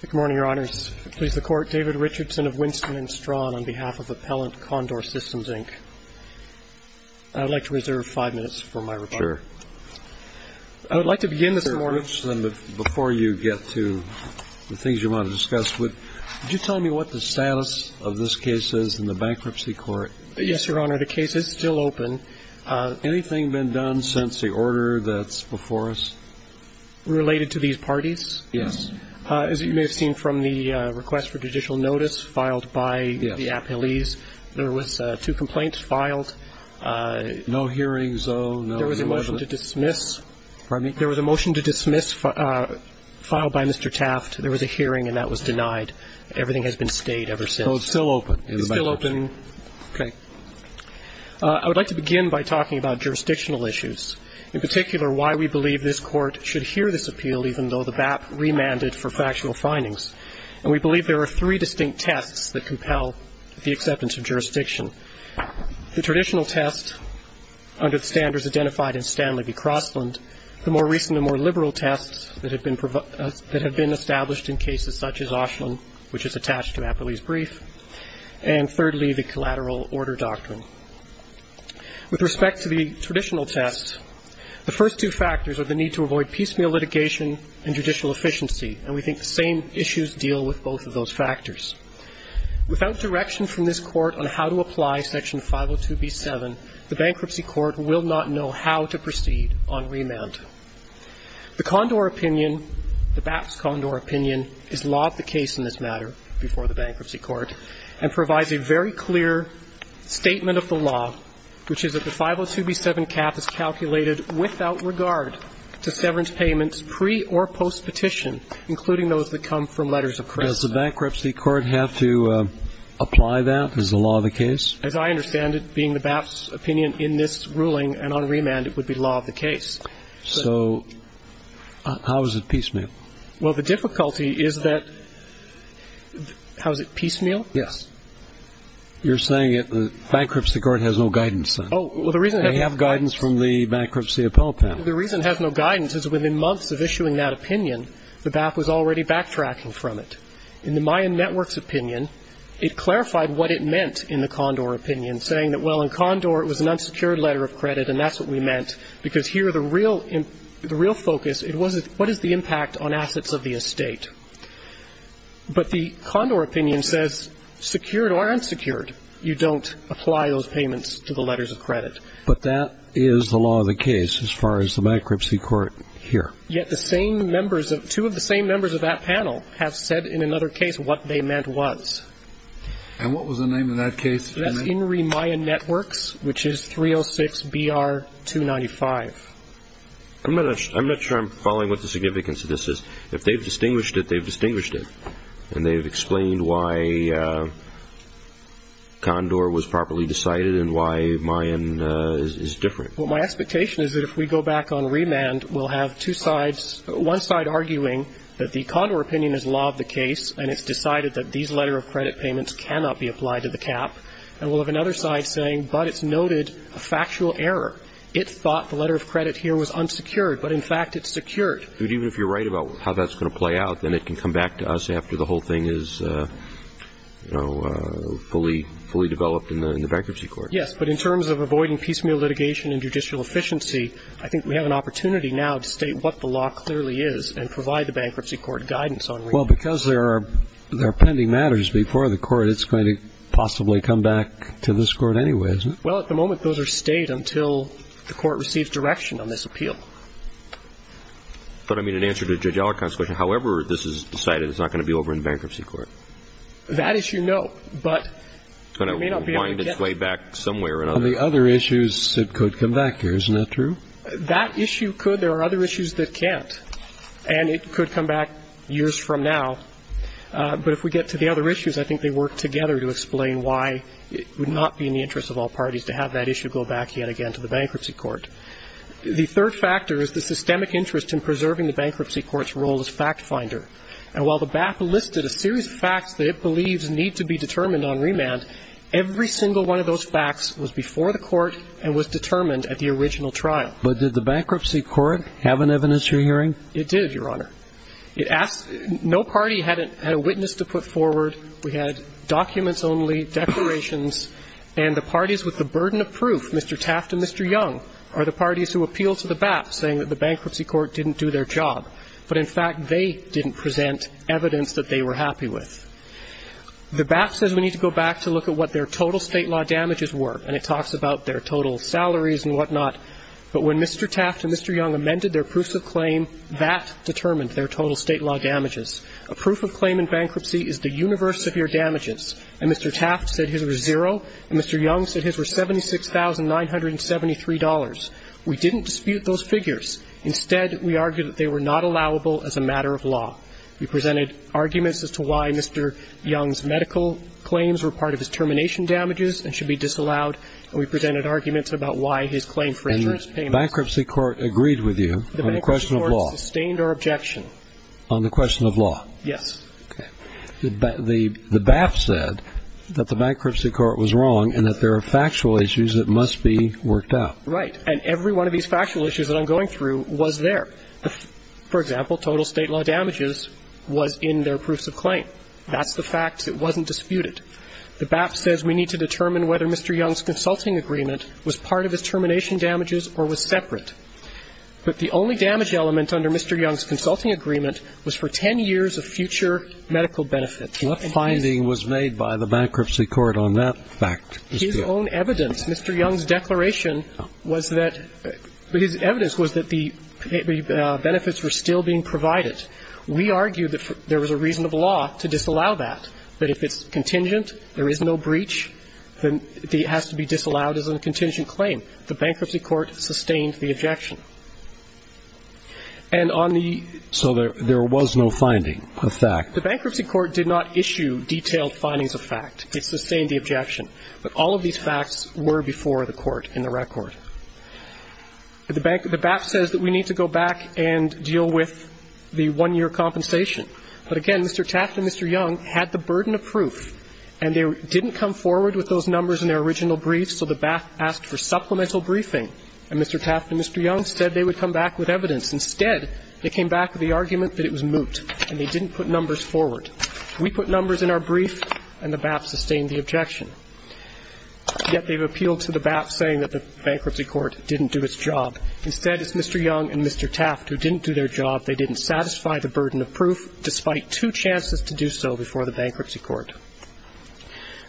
Good morning, Your Honors. Please, the Court. David Richardson of Winston & Strawn on behalf of Appellant Condor Systems, Inc. I would like to reserve five minutes for my report. Sure. I would like to begin this morning. Mr. Richardson, before you get to the things you want to discuss, would you tell me what the status of this case is in the Bankruptcy Court? Yes, Your Honor. The case is still open. Anything been done since the order that's before us? Related to these parties? Yes. As you may have seen from the request for judicial notice filed by the appellees, there was two complaints filed. No hearings, though? There was a motion to dismiss. Pardon me? There was a motion to dismiss filed by Mr. Taft. There was a hearing, and that was denied. Everything has been stayed ever since. So it's still open in the Bankruptcy Court? It's still open. Okay. I would like to begin by talking about jurisdictional issues, in particular, why we believe this Court should hear this appeal, even though the BAP remanded for factual findings. And we believe there are three distinct tests that compel the acceptance of jurisdiction. The traditional test, under the standards identified in Stanley v. Crossland, the more recent and more liberal tests that have been established in cases such as Oshlin, which is attached to Appellee's Brief, and thirdly, the collateral order doctrine. With respect to the traditional tests, the first two factors are the need to avoid piecemeal litigation and judicial efficiency, and we think the same issues deal with both of those factors. Without direction from this Court on how to apply Section 502b7, the Bankruptcy Court will not know how to proceed on remand. The Condor opinion, the BAP's Condor opinion, is laud the case in this matter before the Bankruptcy Court and provides a very clear statement of the law, which is that the 502b7 cap is calculated without regard to severance payments pre- or post-petition, including those that come from letters of credit. Does the Bankruptcy Court have to apply that? Is the law the case? As I understand it, being the BAP's opinion in this ruling and on remand, it would be law of the case. So how is it piecemeal? Well, the difficulty is that the ---- How is it piecemeal? Yes. You're saying that the Bankruptcy Court has no guidance on it. Oh, well, the reason ---- They have guidance from the Bankruptcy Appellate Panel. The reason it has no guidance is within months of issuing that opinion, the BAP was already backtracking from it. In the Mayan Network's opinion, it clarified what it meant in the Condor opinion, saying that, well, in Condor it was an unsecured letter of credit and that's what we meant, because here the real focus, it was what is the impact on assets of the estate. But the Condor opinion says secured or unsecured, you don't apply those payments to the letters of credit. But that is the law of the case as far as the Bankruptcy Court here. Yet the same members of ---- two of the same members of that panel have said in another case what they meant was. And what was the name of that case? That's Inri Mayan Networks, which is 306-BR-295. I'm not sure I'm following what the significance of this is. If they've distinguished it, they've distinguished it. And they've explained why Condor was properly decided and why Mayan is different. Well, my expectation is that if we go back on remand, we'll have two sides, one side arguing that the Condor opinion is law of the case and it's decided that these letter of credit payments cannot be applied to the cap, and we'll have another side saying, but it's noted a factual error. It thought the letter of credit here was unsecured. But, in fact, it's secured. But even if you're right about how that's going to play out, then it can come back to us after the whole thing is, you know, fully developed in the Bankruptcy Court. Yes. But in terms of avoiding piecemeal litigation and judicial efficiency, I think we have an opportunity now to state what the law clearly is and provide the Bankruptcy Court guidance on remand. Well, because there are pending matters before the Court, it's going to possibly come back to this Court anyway, isn't it? Well, at the moment, those are state until the Court receives direction on this appeal. But, I mean, in answer to Judge Allec's question, however this is decided, it's not going to be over in Bankruptcy Court. That issue, no. But it may not be able to get it. It's going to wind its way back somewhere or another. On the other issues, it could come back here. Isn't that true? That issue could. There are other issues that can't. And it could come back years from now. But if we get to the other issues, I think they work together to explain why it would not be in the interest of all parties to have that issue go back yet again to the Bankruptcy Court. The third factor is the systemic interest in preserving the Bankruptcy Court's role as fact finder. And while the BAP listed a series of facts that it believes need to be determined on remand, every single one of those facts was before the Court and was determined at the original trial. But did the Bankruptcy Court have an evidence you're hearing? It did, Your Honor. It asked no party had a witness to put forward. We had documents only, declarations. And the parties with the burden of proof, Mr. Taft and Mr. Young, are the parties who appealed to the BAP saying that the Bankruptcy Court didn't do their job. But, in fact, they didn't present evidence that they were happy with. The BAP says we need to go back to look at what their total State law damages were. And it talks about their total salaries and whatnot. But when Mr. Taft and Mr. Young amended their proofs of claim, that determined their total State law damages. A proof of claim in bankruptcy is the universe of your damages. And Mr. Taft said his were zero, and Mr. Young said his were $76,973. We didn't dispute those figures. Instead, we argued that they were not allowable as a matter of law. We presented arguments as to why Mr. Young's medical claims were part of his termination damages and should be disallowed. And we presented arguments about why his claim for insurance payments. And the Bankruptcy Court agreed with you on the question of law? The Bankruptcy Court sustained our objection. On the question of law? Yes. Okay. The BAP said that the Bankruptcy Court was wrong and that there are factual issues that must be worked out. Right. And every one of these factual issues that I'm going through was there. For example, total State law damages was in their proofs of claim. That's the fact. It wasn't disputed. The BAP says we need to determine whether Mr. Young's consulting agreement was part of his termination damages or was separate. But the only damage element under Mr. Young's consulting agreement was for 10 years of future medical benefits. What finding was made by the Bankruptcy Court on that fact? His own evidence. Mr. Young's declaration was that his evidence was that the benefits were still being provided. We argued that there was a reason of law to disallow that. But if it's contingent, there is no breach, then it has to be disallowed as a contingent claim. The Bankruptcy Court sustained the objection. And on the ---- So there was no finding of fact. The Bankruptcy Court did not issue detailed findings of fact. It sustained the objection. But all of these facts were before the Court in the record. The BAP says that we need to go back and deal with the one-year compensation. But again, Mr. Taft and Mr. Young had the burden of proof. And they didn't come forward with those numbers in their original brief, so the BAP asked for supplemental briefing. And Mr. Taft and Mr. Young said they would come back with evidence. Instead, they came back with the argument that it was moot and they didn't put numbers forward. We put numbers in our brief and the BAP sustained the objection. Yet they've appealed to the BAP saying that the Bankruptcy Court didn't do its job. Instead, it's Mr. Young and Mr. Taft who didn't do their job. They didn't satisfy the burden of proof, despite two chances to do so before the Bankruptcy Court.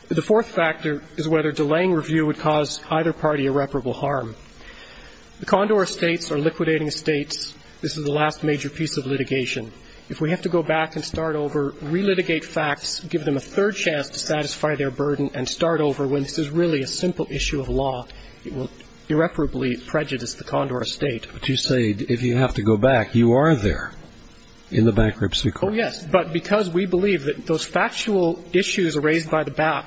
The fourth factor is whether delaying review would cause either party irreparable harm. The Condor Estates are liquidating estates. This is the last major piece of litigation. If we have to go back and start over, relitigate facts, give them a third chance to satisfy their burden, and start over when this is really a simple issue of law, it will irreparably prejudice the Condor Estate. But you say if you have to go back, you are there in the Bankruptcy Court. Oh, yes. But because we believe that those factual issues raised by the BAP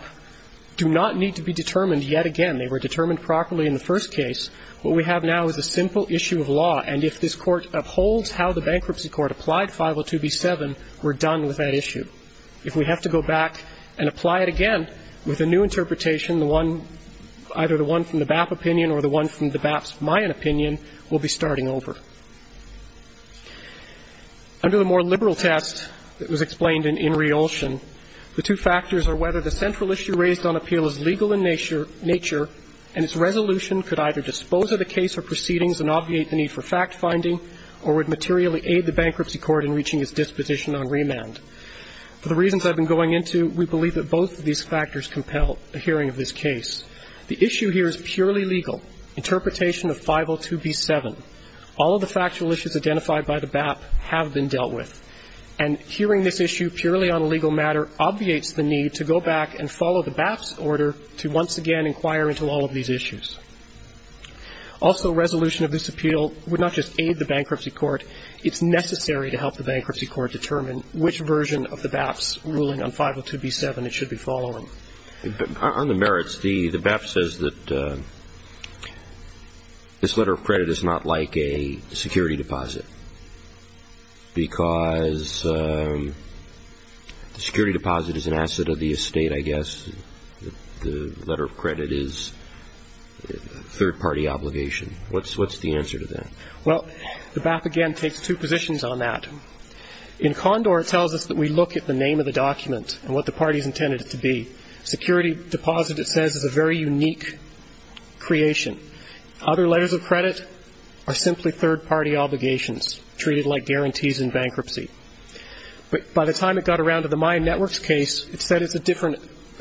do not need to be determined yet again. They were determined properly in the first case. What we have now is a simple issue of law. And if this Court upholds how the Bankruptcy Court applied 502b-7, we're done with that issue. If we have to go back and apply it again with a new interpretation, the one, either the one from the BAP opinion or the one from the BAP's Mayan opinion, we'll be starting over. Under the more liberal test that was explained in Reulsion, the two factors are whether the central issue raised on appeal is legal in nature and its resolution could either dispose of the case or proceedings and obviate the need for fact-finding or would materially aid the Bankruptcy Court in reaching its disposition on remand. For the reasons I've been going into, we believe that both of these factors compel a hearing of this case. The issue here is purely legal, interpretation of 502b-7. All of the factual issues identified by the BAP have been dealt with. And hearing this issue purely on a legal matter obviates the need to go back and follow the BAP's order to once again inquire into all of these issues. Also, resolution of this appeal would not just aid the Bankruptcy Court. It's necessary to help the Bankruptcy Court determine which version of the BAP's ruling on 502b-7 it should be following. On the merits, the BAP says that this letter of credit is not like a security deposit because the security deposit is an asset of the estate, I guess. The letter of credit is a third-party obligation. What's the answer to that? Well, the BAP, again, takes two positions on that. In Condor, it tells us that we look at the name of the document and what the party has intended it to be. Security deposit, it says, is a very unique creation. Other letters of credit are simply third-party obligations, treated like guarantees in bankruptcy. But by the time it got around to the Mayan Networks case, it said it's a different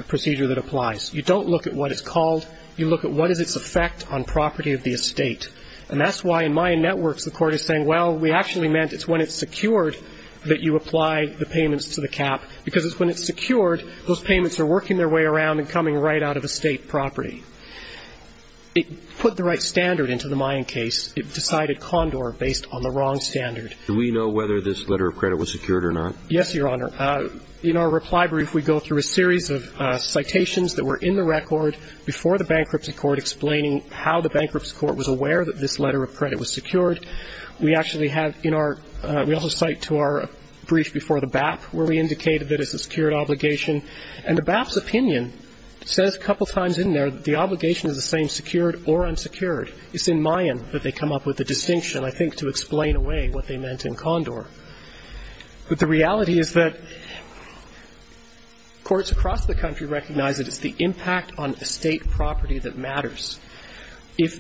procedure that applies. You don't look at what it's called. You look at what is its effect on property of the estate. And that's why in Mayan Networks the Court is saying, well, we actually meant it's when it's secured that you apply the payments to the cap, because it's when it's secured, those payments are working their way around and coming right out of estate property. It put the right standard into the Mayan case. It decided Condor based on the wrong standard. Do we know whether this letter of credit was secured or not? Yes, Your Honor. In our reply brief, we go through a series of citations that were in the record before the bankruptcy court explaining how the bankruptcy court was aware that this letter of credit was secured. We actually have in our we also cite to our brief before the BAP where we indicated that it's a secured obligation. And the BAP's opinion says a couple times in there that the obligation is the same, secured or unsecured. It's in Mayan that they come up with the distinction, I think, to explain away what they meant in Condor. But the reality is that courts across the country recognize that it's the impact on estate property that matters. If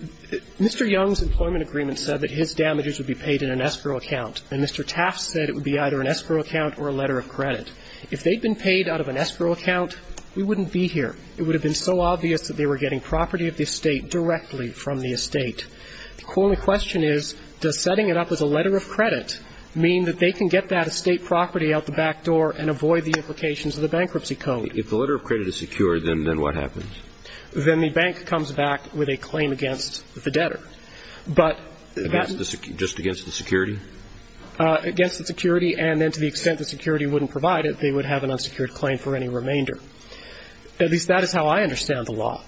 Mr. Young's employment agreement said that his damages would be paid in an escrow account, and Mr. Taft said it would be either an escrow account or a letter of credit, if they'd been paid out of an escrow account, we wouldn't be here. It would have been so obvious that they were getting property of the estate directly from the estate. The only question is, does setting it up as a letter of credit mean that they can get that estate property out the back door and avoid the implications of the bankruptcy code? If the letter of credit is secured, then what happens? Then the bank comes back with a claim against the debtor. But that — Just against the security? Against the security, and then to the extent the security wouldn't provide it, they would have an unsecured claim for any remainder. At least that is how I understand the law.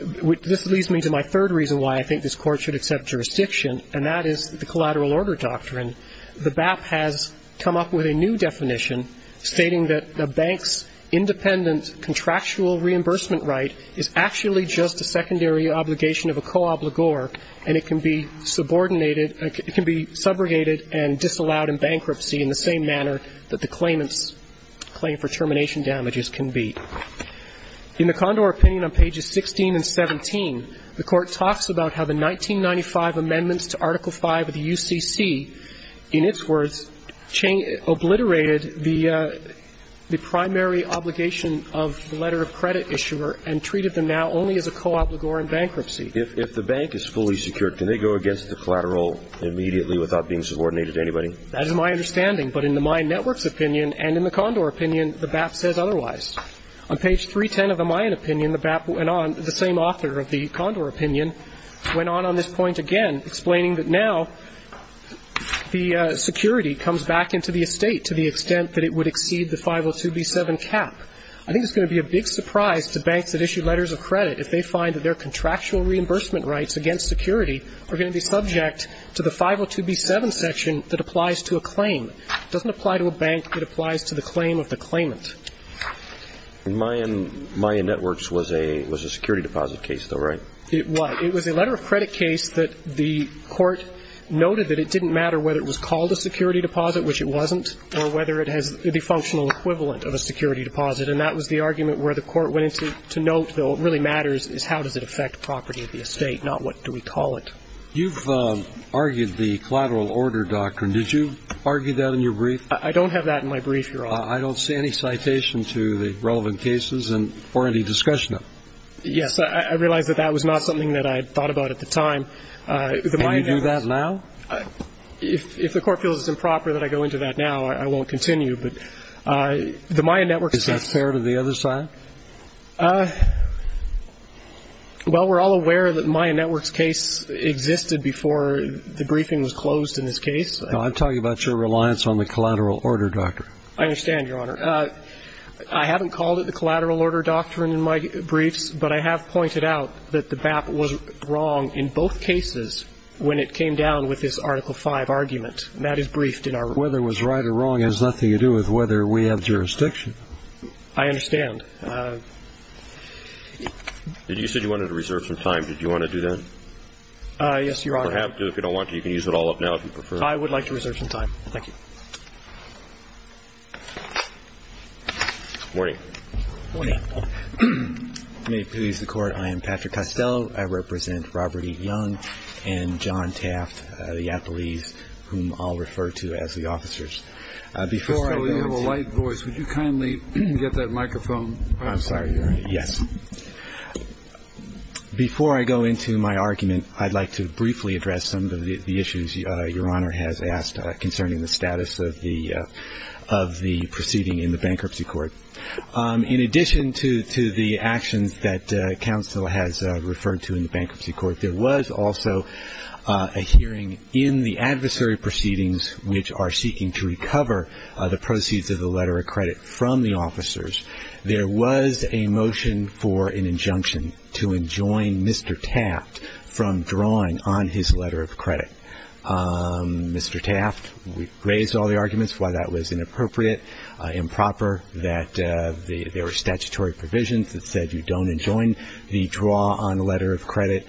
This leads me to my third reason why I think this Court should accept jurisdiction, and that is the collateral order doctrine. The BAP has come up with a new definition stating that a bank's independent contractual reimbursement right is actually just a secondary obligation of a co-obligor, and it can be subordinated — it can be subrogated and disallowed in bankruptcy in the same manner that the claimants' claim for termination damages can be. In the Condor opinion on pages 16 and 17, the Court talks about how the 1995 amendments to Article V of the UCC, in its words, obliterated the primary obligation of the letter of credit issuer and treated them now only as a co-obligor in bankruptcy. If the bank is fully secured, can they go against the collateral immediately without being subordinated to anybody? That is my understanding. But in the Mayan Network's opinion and in the Condor opinion, the BAP says otherwise. On page 310 of the Mayan opinion, the BAP went on — the same author of the Condor opinion went on on this point again, explaining that now the security comes back into the estate to the extent that it would exceed the 502b7 cap. I think it's going to be a big surprise to banks that issue letters of credit if they find that their contractual reimbursement rights against security are going to be subject to the 502b7 section that applies to a claim. It doesn't apply to a bank. It applies to the claim of the claimant. And Mayan Networks was a security deposit case, though, right? It was. It was a letter of credit case that the court noted that it didn't matter whether it was called a security deposit, which it wasn't, or whether it has the functional equivalent of a security deposit. And that was the argument where the court went into note, though what really matters is how does it affect property of the estate, not what do we call it. You've argued the collateral order doctrine. Did you argue that in your brief? I don't have that in my brief, Your Honor. I don't see any citation to the relevant cases or any discussion of it. Yes, I realize that that was not something that I had thought about at the time. Can you do that now? If the court feels it's improper that I go into that now, I won't continue. But the Mayan Networks case. Is that fair to the other side? Well, we're all aware that Mayan Networks case existed before the briefing was closed in this case. No, I'm talking about your reliance on the collateral order doctrine. I understand, Your Honor. I haven't called it the collateral order doctrine in my briefs, but I have pointed out that the BAP was wrong in both cases when it came down with this Article V argument. And that is briefed in our brief. Whether it was right or wrong has nothing to do with whether we have jurisdiction. I understand. You said you wanted to reserve some time. Did you want to do that? Yes, Your Honor. You don't have to. If you don't want to, you can use it all up now if you prefer. I would like to reserve some time. Thank you. Good morning. Good morning. May it please the Court, I am Patrick Costello. I represent Robert E. Young and John Taft, the appellees whom I'll refer to as the officers. Before I go into my argument, I'd like to briefly address some of the issues Your Honor has asked concerning the status of the proceeding in the bankruptcy court. In addition to the actions that counsel has referred to in the bankruptcy court, there was also a hearing in the adversary proceedings, which are seeking to recover the proceeds of the letter of credit from the officers. There was a motion for an injunction to enjoin Mr. Taft from drawing on his letter of credit. Mr. Taft raised all the arguments why that was inappropriate, improper, that there were statutory provisions that said you don't enjoin the draw on a letter of credit,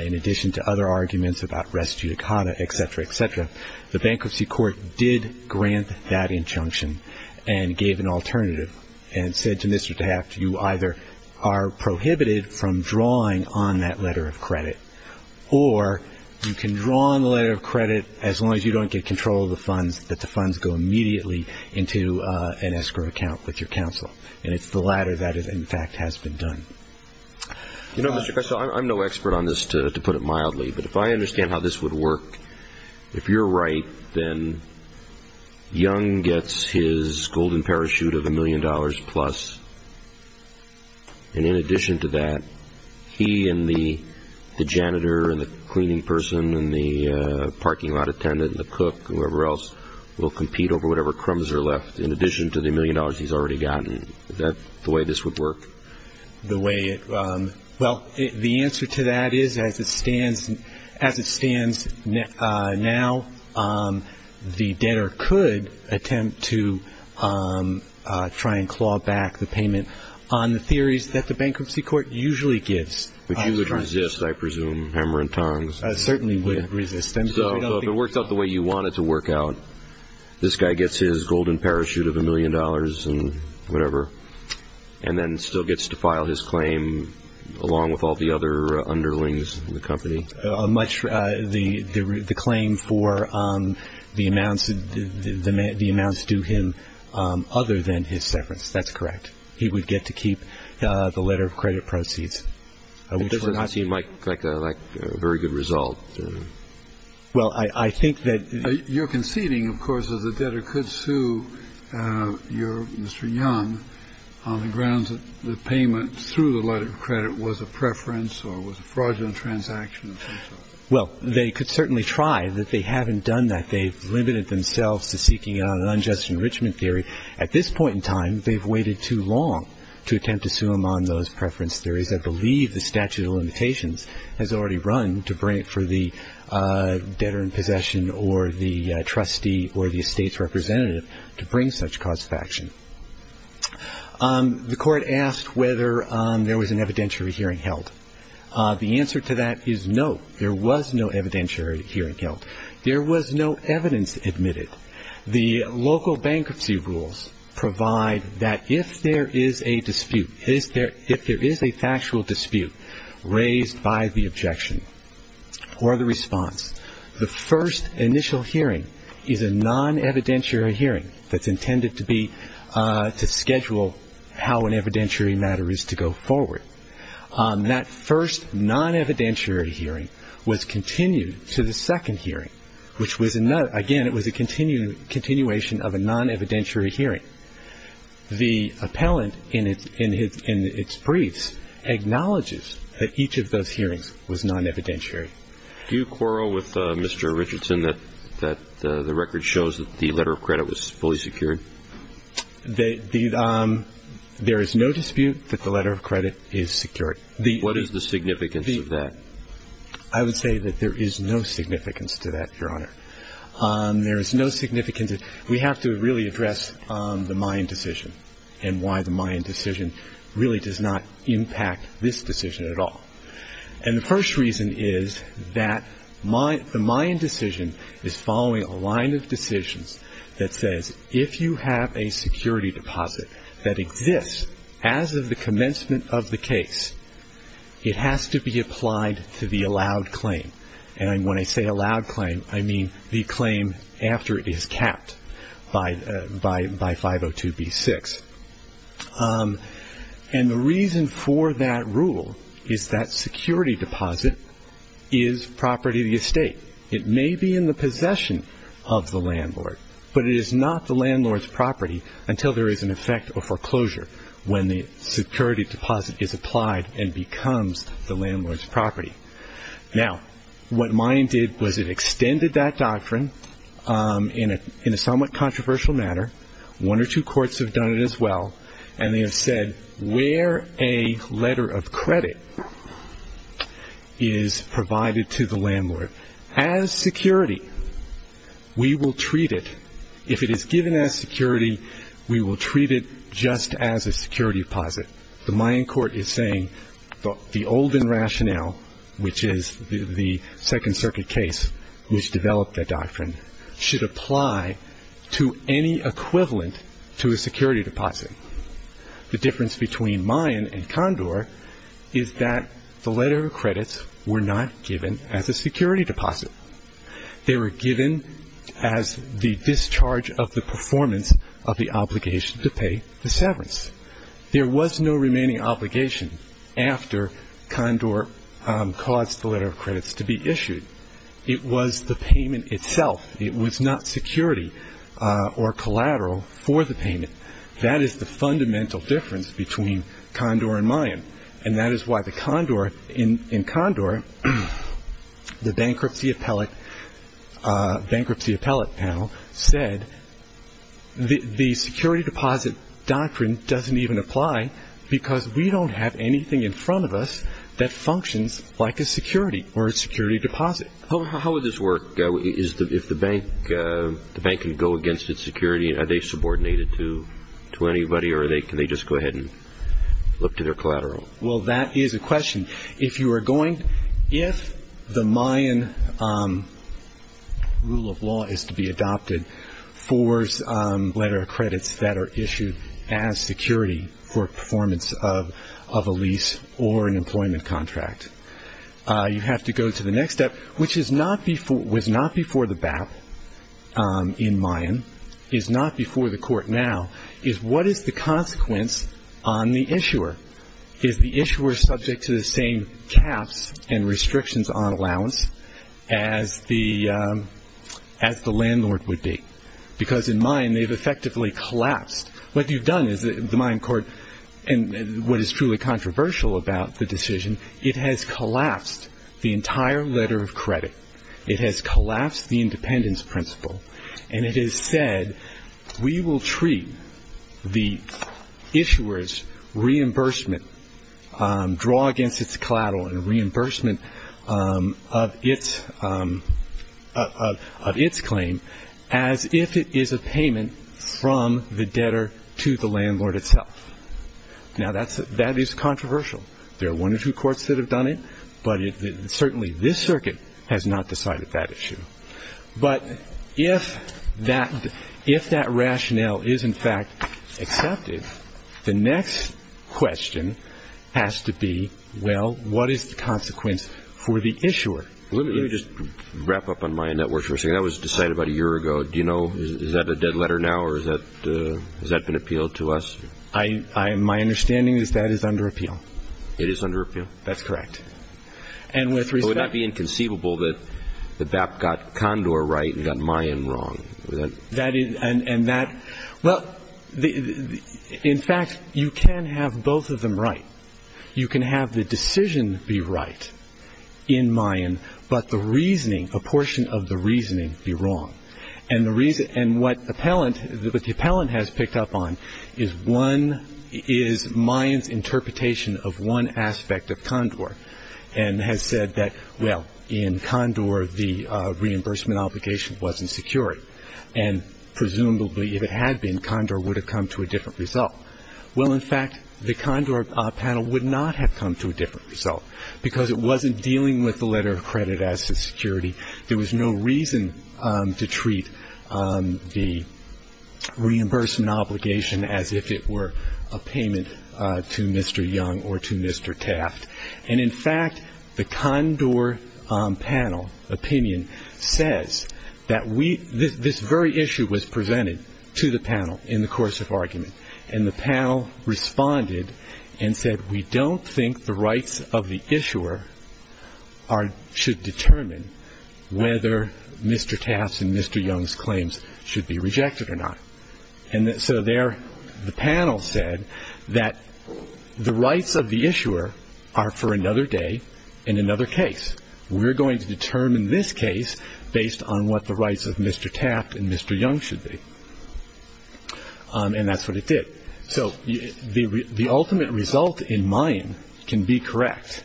in addition to other arguments about res judicata, et cetera, et cetera. The bankruptcy court did grant that injunction and gave an alternative and said to Mr. Taft you either are prohibited from drawing on that letter of credit or you can draw on the letter of credit as long as you don't get control of the funds, that the funds go immediately into an escrow account with your counsel. And it's the latter that, in fact, has been done. You know, Mr. Kressel, I'm no expert on this, to put it mildly. But if I understand how this would work, if you're right, then Young gets his golden parachute of a million dollars plus. And in addition to that, he and the janitor and the cleaning person and the parking lot attendant and the cook, whoever else, will compete over whatever crumbs are left in addition to the million dollars he's already gotten. Is that the way this would work? The way it – well, the answer to that is as it stands now, the debtor could attempt to try and claw back the payment on the theories that the bankruptcy court usually gives. But you would resist, I presume, hammer and tongs. I certainly would resist. So if it works out the way you want it to work out, this guy gets his golden parachute of a million dollars and whatever and then still gets to file his claim along with all the other underlings in the company. The claim for the amounts due him other than his severance. That's correct. He would get to keep the letter of credit proceeds. Which you might collect a very good result. Well, I think that – You're conceding, of course, that the debtor could sue Mr. Young on the grounds that the payment through the letter of credit was a preference or was a fraudulent transaction of some sort. Well, they could certainly try, but they haven't done that. They've limited themselves to seeking out an unjust enrichment theory. At this point in time, they've waited too long to attempt to sue him on those preference theories. I believe the statute of limitations has already run to bring it for the debtor in possession or the trustee or the estate's representative to bring such cause of action. The court asked whether there was an evidentiary hearing held. The answer to that is no. There was no evidentiary hearing held. There was no evidence admitted. The local bankruptcy rules provide that if there is a dispute, if there is a factual dispute raised by the objection or the response, the first initial hearing is a non-evidentiary hearing that's intended to schedule how an evidentiary matter is to go forward. That first non-evidentiary hearing was continued to the second hearing, which, again, it was a continuation of a non-evidentiary hearing. The appellant in its briefs acknowledges that each of those hearings was non-evidentiary. Do you quarrel with Mr. Richardson that the record shows that the letter of credit was fully secured? There is no dispute that the letter of credit is secured. What is the significance of that? I would say that there is no significance to that, Your Honor. There is no significance. We have to really address the Mayan decision and why the Mayan decision really does not impact this decision at all. And the first reason is that the Mayan decision is following a line of decisions that says, if you have a security deposit that exists as of the commencement of the case, it has to be applied to the allowed claim. And when I say allowed claim, I mean the claim after it is capped by 502b6. And the reason for that rule is that security deposit is property of the estate. It may be in the possession of the landlord, but it is not the landlord's property until there is an effect of foreclosure when the security deposit is applied and becomes the landlord's property. Now, what Mayan did was it extended that doctrine in a somewhat controversial manner. One or two courts have done it as well, and they have said where a letter of credit is provided to the landlord as security, we will treat it. If it is given as security, we will treat it just as a security deposit. The Mayan court is saying the olden rationale, which is the Second Circuit case which developed that doctrine, should apply to any equivalent to a security deposit. The difference between Mayan and Condor is that the letter of credits were not given as a security deposit. They were given as the discharge of the performance of the obligation to pay the severance. There was no remaining obligation after Condor caused the letter of credits to be issued. It was the payment itself. It was not security or collateral for the payment. That is the fundamental difference between Condor and Mayan, and that is why in Condor the bankruptcy appellate panel said the security deposit doctrine doesn't even apply because we don't have anything in front of us that functions like a security or a security deposit. How would this work? If the bank can go against its security, are they subordinated to anybody, or can they just go ahead and look to their collateral? Well, that is a question. If the Mayan rule of law is to be adopted for letter of credits that are issued as security for performance of a lease or an employment contract, you have to go to the next step, which was not before the BAP in Mayan, is not before the Court now, is what is the consequence on the issuer? Is the issuer subject to the same caps and restrictions on allowance as the landlord would be? Because in Mayan they've effectively collapsed. What you've done is the Mayan court, and what is truly controversial about the decision, it has collapsed the entire letter of credit. It has collapsed the independence principle, and it has said we will treat the issuer's reimbursement, draw against its collateral, and reimbursement of its claim as if it is a payment from the debtor to the landlord itself. Now, that is controversial. There are one or two courts that have done it, but certainly this circuit has not decided that issue. But if that rationale is in fact accepted, the next question has to be, well, what is the consequence for the issuer? Let me just wrap up on Mayan networks for a second. That was decided about a year ago. Do you know, is that a dead letter now, or has that been appealed to us? My understanding is that is under appeal. It is under appeal? That's correct. It would not be inconceivable that BAP got Condor right and got Mayan wrong. Well, in fact, you can have both of them right. You can have the decision be right in Mayan, but the reasoning, a portion of the reasoning, be wrong. And the reason, and what the appellant, what the appellant has picked up on is one, is Mayan's interpretation of one aspect of Condor and has said that, well, in Condor the reimbursement obligation wasn't security. And presumably if it had been, Condor would have come to a different result. Well, in fact, the Condor panel would not have come to a different result, because it wasn't dealing with the letter of credit as to security. There was no reason to treat the reimbursement obligation as if it were a payment to Mr. Young or to Mr. Taft. And, in fact, the Condor panel opinion says that we, this very issue was presented to the panel in the course of argument. And the panel responded and said, we don't think the rights of the issuer should determine whether Mr. Taft's and Mr. Young's claims should be rejected or not. And so there the panel said that the rights of the issuer are for another day in another case. We're going to determine this case based on what the rights of Mr. Taft and Mr. Young should be. And that's what it did. So the ultimate result in Mayan can be correct,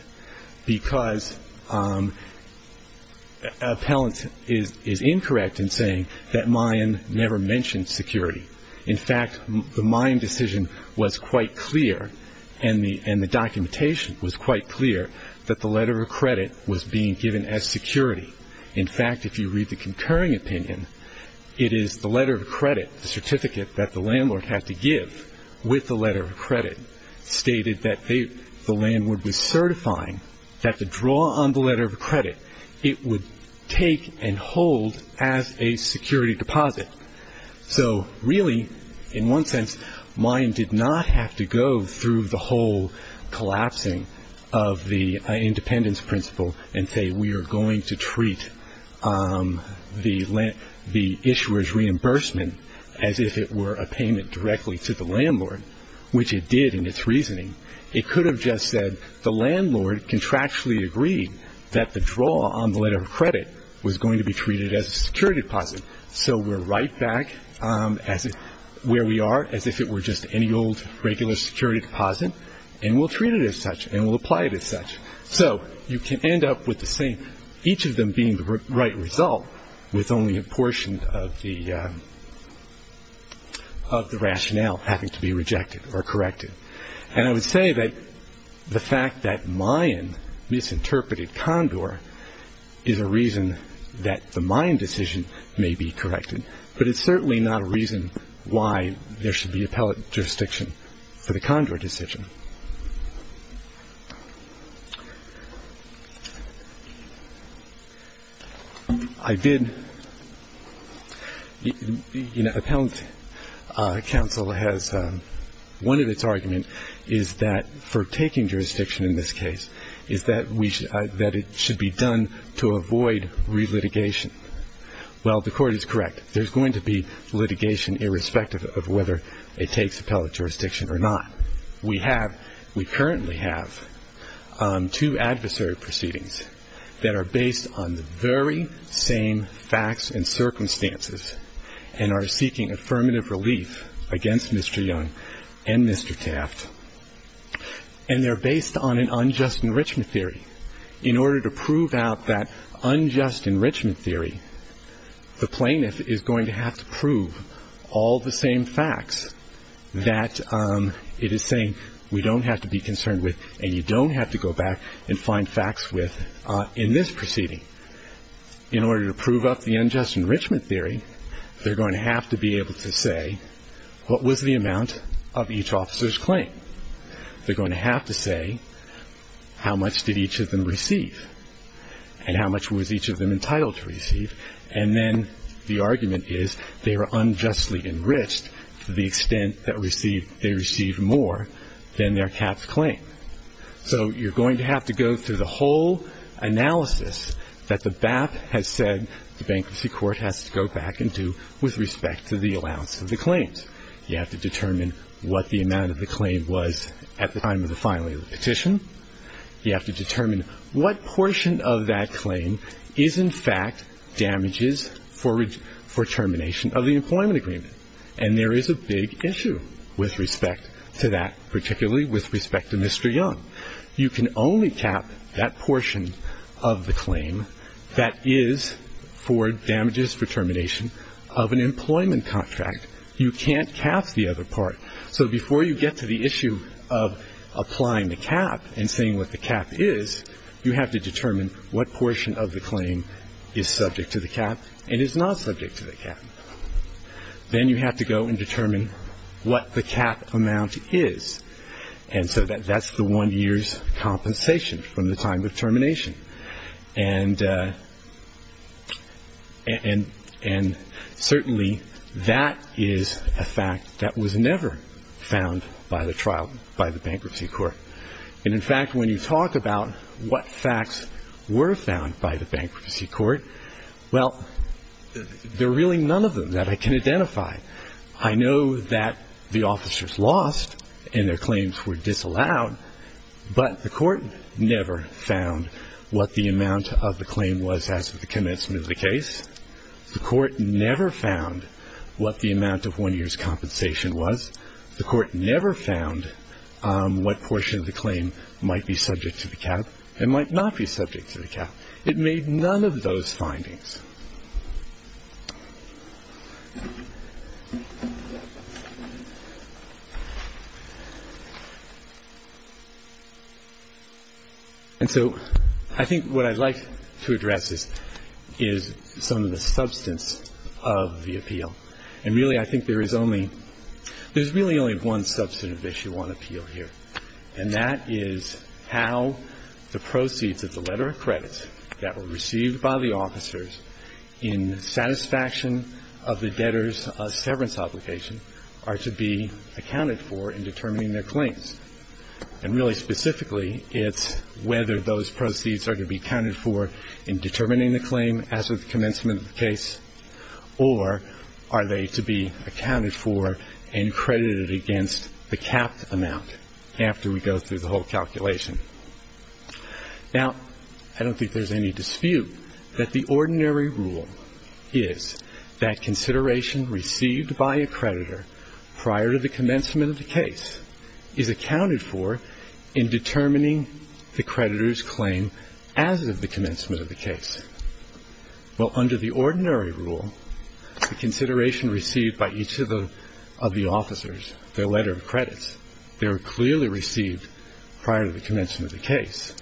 because appellant is incorrect in saying that Mayan never mentioned security. In fact, the Mayan decision was quite clear, and the documentation was quite clear that the letter of credit was being given as security. In fact, if you read the concurring opinion, it is the letter of credit, the certificate that the landlord had to give with the letter of credit, stated that the landlord was certifying that the draw on the letter of credit, it would take and hold as a security deposit. So really, in one sense, Mayan did not have to go through the whole collapsing of the independence principle and say we are going to treat the issuer's reimbursement as if it were a payment directly to the landlord, which it did in its reasoning. It could have just said the landlord contractually agreed that the draw on the letter of credit was going to be treated as a security deposit. So we're right back where we are as if it were just any old regular security deposit, and we'll treat it as such and we'll apply it as such. So you can end up with the same, each of them being the right result, with only a portion of the rationale having to be rejected or corrected. And I would say that the fact that Mayan misinterpreted Condor is a reason that the Mayan decision may be corrected, but it's certainly not a reason why there should be appellate jurisdiction for the Condor decision. Appellant counsel has one of its arguments is that for taking jurisdiction in this case, is that it should be done to avoid relitigation. Well, the Court is correct. There's going to be litigation irrespective of whether it takes appellate jurisdiction or not. We have, we currently have two adversary proceedings that are based on the very same facts and circumstances and are seeking affirmative relief against Mr. Young and Mr. Taft, and they're based on an unjust enrichment theory. In order to prove out that unjust enrichment theory, the plaintiff is going to have to prove all the same facts that it is saying we don't have to be concerned with and you don't have to go back and find facts with in this proceeding. In order to prove up the unjust enrichment theory, they're going to have to be able to say what was the amount of each officer's claim. They're going to have to say how much did each of them receive and how much was each of them entitled to receive, and then the argument is they were unjustly enriched to the extent that they received more than their cap's claim. So you're going to have to go through the whole analysis that the BAP has said the Bankruptcy Court has to go back and do with respect to the allowance of the claims. You have to determine what the amount of the claim was at the time of the filing of the petition. You have to determine what portion of that claim is in fact damages for termination of the employment agreement, and there is a big issue with respect to that, particularly with respect to Mr. Young. You can only cap that portion of the claim that is for damages for termination of an employment contract. You can't cap the other part. So before you get to the issue of applying the cap and saying what the cap is, you have to determine what portion of the claim is subject to the cap and is not subject to the cap. Then you have to go and determine what the cap amount is, and so that's the one year's compensation from the time of termination. And certainly that is a fact that was never found by the trial, by the Bankruptcy Court. And in fact, when you talk about what facts were found by the Bankruptcy Court, well, there are really none of them that I can identify. I know that the officers lost and their claims were disallowed, but the court never found what the amount of the claim was as of the commencement of the case. The court never found what the amount of one year's compensation was. The court never found what portion of the claim might be subject to the cap and might not be subject to the cap. It made none of those findings. And so I think what I'd like to address is some of the substance of the appeal. And really I think there is only one substantive issue on appeal here, and that is how the proceeds of the letter of credits that were received by the officers in satisfaction of the debtor's severance obligation are to be accounted for in determining their claims. And really specifically, it's whether those proceeds are to be accounted for in determining the claim as of the commencement of the case, or are they to be accounted for and credited against the capped amount after we go through the whole calculation. Now, I don't think there's any dispute that the ordinary rule is that consideration received by a creditor prior to the commencement of the case is accounted for in determining the creditor's claim as of the commencement of the case. Well, under the ordinary rule, the consideration received by each of the officers, their letter of credits, they were clearly received prior to the commencement of the case,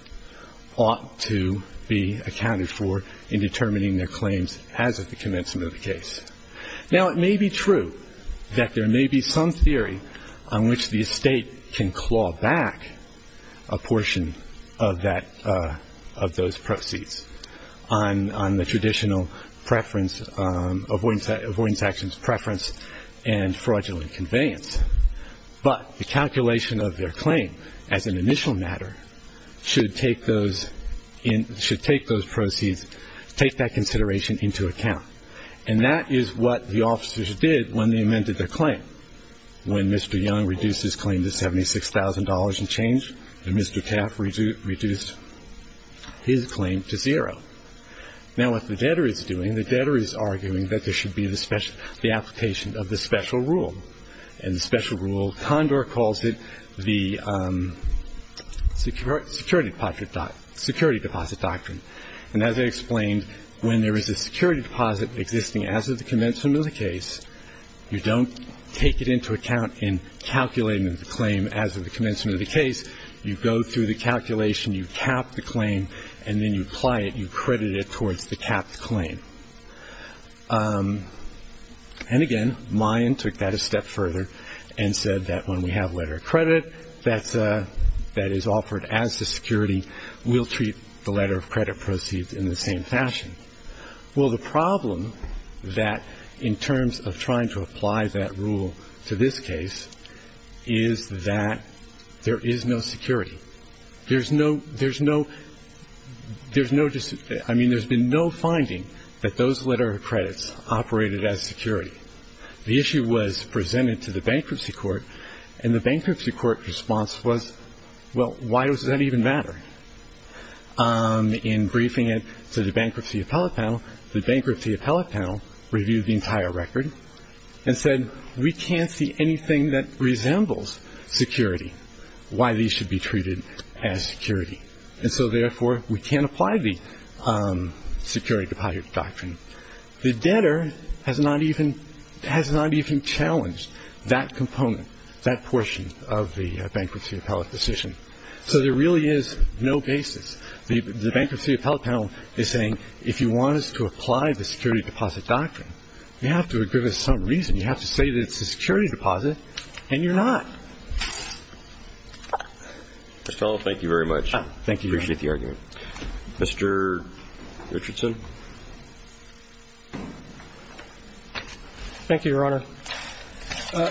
ought to be accounted for in determining their claims as of the commencement of the case. Now, it may be true that there may be some theory on which the estate can claw back a portion of those proceeds on the traditional avoidance actions preference and fraudulent conveyance. But the calculation of their claim as an initial matter should take those proceeds, take that consideration into account. And that is what the officers did when they amended their claim. When Mr. Young reduced his claim to $76,000 and changed, and Mr. Taft reduced his claim to zero. Now, what the debtor is doing, the debtor is arguing that there should be the application of the special rule. And the special rule, Condor calls it the security deposit doctrine. And as I explained, when there is a security deposit existing as of the commencement of the case, you don't take it into account in calculating the claim as of the commencement of the case. You go through the calculation, you cap the claim, and then you apply it, you credit it towards the capped claim. And again, Mayan took that a step further and said that when we have a letter of credit that is offered as a security, we'll treat the letter of credit proceed in the same fashion. Well, the problem that in terms of trying to apply that rule to this case is that there is no security. There's no ‑‑ there's no ‑‑ there's no ‑‑ I mean, there's been no finding that those letter of credits operated as security. The issue was presented to the bankruptcy court, and the bankruptcy court response was, well, why does that even matter? In briefing it to the bankruptcy appellate panel, the bankruptcy appellate panel reviewed the entire record and said, we can't see anything that resembles security, why these should be treated as security. And so, therefore, we can't apply the security deposit doctrine. The debtor has not even ‑‑ has not even challenged that component, that portion of the bankruptcy appellate decision. So there really is no basis. The bankruptcy appellate panel is saying, if you want us to apply the security deposit doctrine, you have to give us some reason. You have to say that it's a security deposit, and you're not. Mr. Fellow, thank you very much. Thank you, Your Honor. I appreciate the argument. Mr. Richardson. Thank you, Your Honor.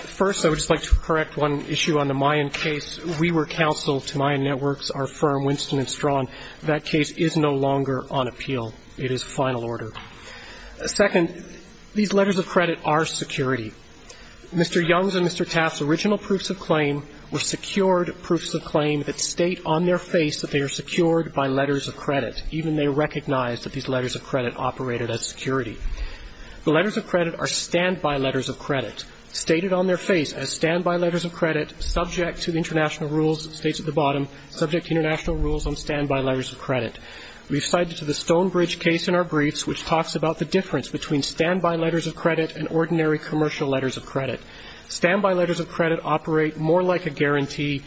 First, I would just like to correct one issue on the Mayan case. We were counsel to Mayan Networks, our firm, Winston & Strawn. That case is no longer on appeal. It is final order. Second, these letters of credit are security. Mr. Young's and Mr. Taft's original proofs of claim were secured proofs of claim that state on their face that they are secured by letters of credit. Even they recognized that these letters of credit operated as security. The letters of credit are standby letters of credit, stated on their face as standby letters of credit, subject to international rules, states at the bottom, subject to international rules on standby letters of credit. We've cited the Stonebridge case in our briefs, which talks about the difference between standby letters of credit and ordinary commercial letters of credit. Standby letters of credit operate more like a guarantee.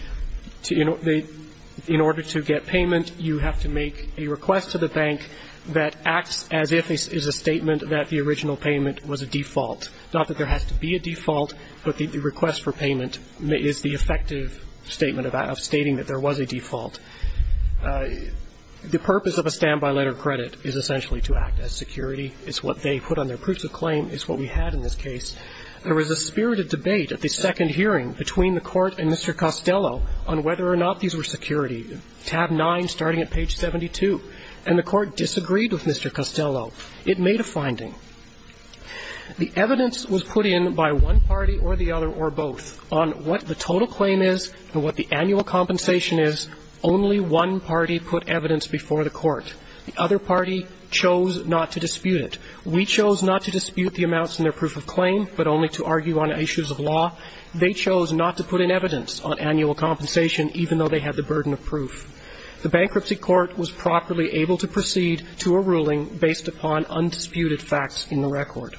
In order to get payment, you have to make a request to the bank that acts as if it is a statement that the original payment was a default. Not that there has to be a default, but the request for payment is the effective statement of stating that there was a default. The purpose of a standby letter of credit is essentially to act as security. It's what they put on their proofs of claim. It's what we had in this case. There was a spirited debate at the second hearing between the Court and Mr. Costello on whether or not these were security, tab 9, starting at page 72. And the Court disagreed with Mr. Costello. It made a finding. The evidence was put in by one party or the other or both on what the total claim is and what the annual compensation is. Only one party put evidence before the Court. The other party chose not to dispute it. We chose not to dispute the amounts in their proof of claim, but only to argue on issues of law. They chose not to put in evidence on annual compensation, even though they had the burden of proof. The Bankruptcy Court was properly able to proceed to a ruling based upon undisputed facts in the record.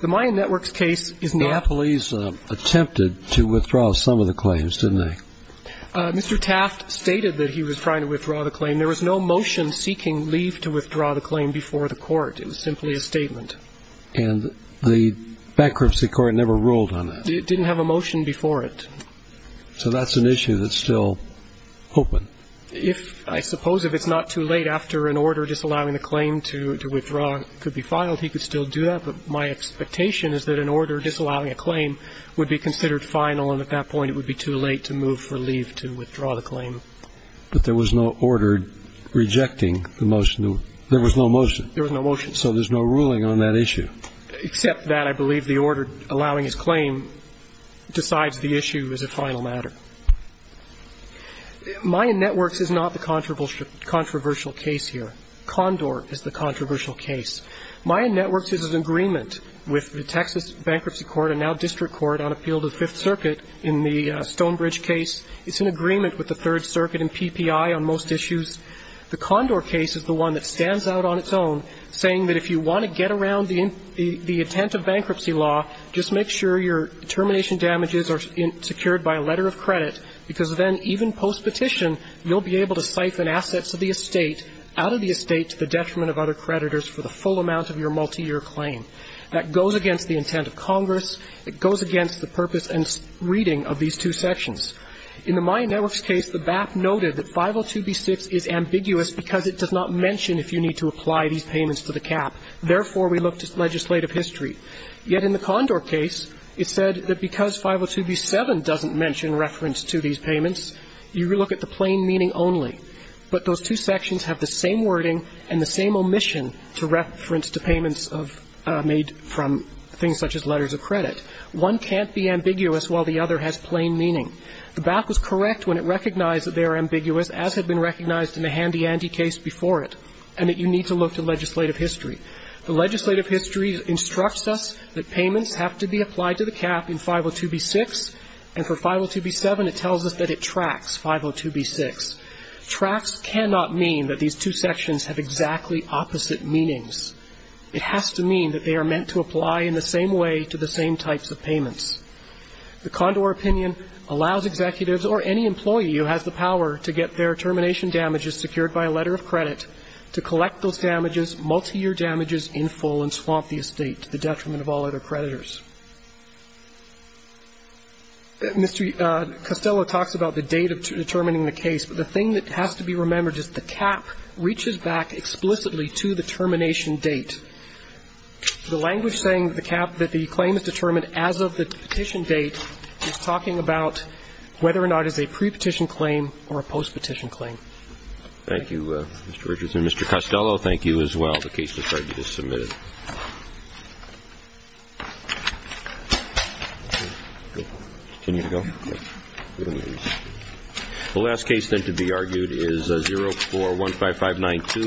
The Mayan Networks case is not ---- Now police attempted to withdraw some of the claims, didn't they? Mr. Taft stated that he was trying to withdraw the claim. There was no motion seeking leave to withdraw the claim before the Court. It was simply a statement. And the Bankruptcy Court never ruled on that? It didn't have a motion before it. So that's an issue that's still open. I suppose if it's not too late after an order disallowing the claim to withdraw, it could be filed. He could still do that. But my expectation is that an order disallowing a claim would be considered final, and at that point it would be too late to move for leave to withdraw the claim. But there was no order rejecting the motion. There was no motion. There was no motion. So there's no ruling on that issue. Except that I believe the order allowing his claim decides the issue as a final matter. Mayan Networks is not the controversial case here. Condor is the controversial case. Mayan Networks is in agreement with the Texas Bankruptcy Court, and now District Court, on appeal to the Fifth Circuit in the Stonebridge case. It's in agreement with the Third Circuit and PPI on most issues. The Condor case is the one that stands out on its own, saying that if you want to get around the intent of bankruptcy law, just make sure your termination damages are secured by a letter of credit, because then even post-petition, you'll be able to siphon assets of the estate out of the estate to the detriment of other creditors for the full amount of your multiyear claim. That goes against the intent of Congress. It goes against the purpose and reading of these two sections. In the Mayan Networks case, the BAP noted that 502b6 is ambiguous because it does not mention if you need to apply these payments to the cap. Therefore, we looked at legislative history. Yet in the Condor case, it said that because 502b7 doesn't mention reference to these payments, you look at the plain meaning only. But those two sections have the same wording and the same omission to reference to payments made from things such as letters of credit. One can't be ambiguous while the other has plain meaning. The BAP was correct when it recognized that they are ambiguous, as had been recognized in the Handy Andy case before it, and that you need to look to legislative history. The legislative history instructs us that payments have to be applied to the cap in 502b6, and for 502b7, it tells us that it tracks 502b6. Tracks cannot mean that these two sections have exactly opposite meanings. It has to mean that they are meant to apply in the same way to the same types of payments. The Condor opinion allows executives or any employee who has the power to get their termination damages secured by a letter of credit to collect those damages, multi-year damages, in full and swamp the estate to the detriment of all other creditors. Mr. Costello talks about the date of determining the case. But the thing that has to be remembered is the cap reaches back explicitly to the termination date. The language saying that the claim is determined as of the petition date is talking about whether or not it's a prepetition claim or a postpetition claim. Thank you, Mr. Richardson. Mr. Costello, thank you as well. The case has been submitted. The last case then to be argued is 04-15592.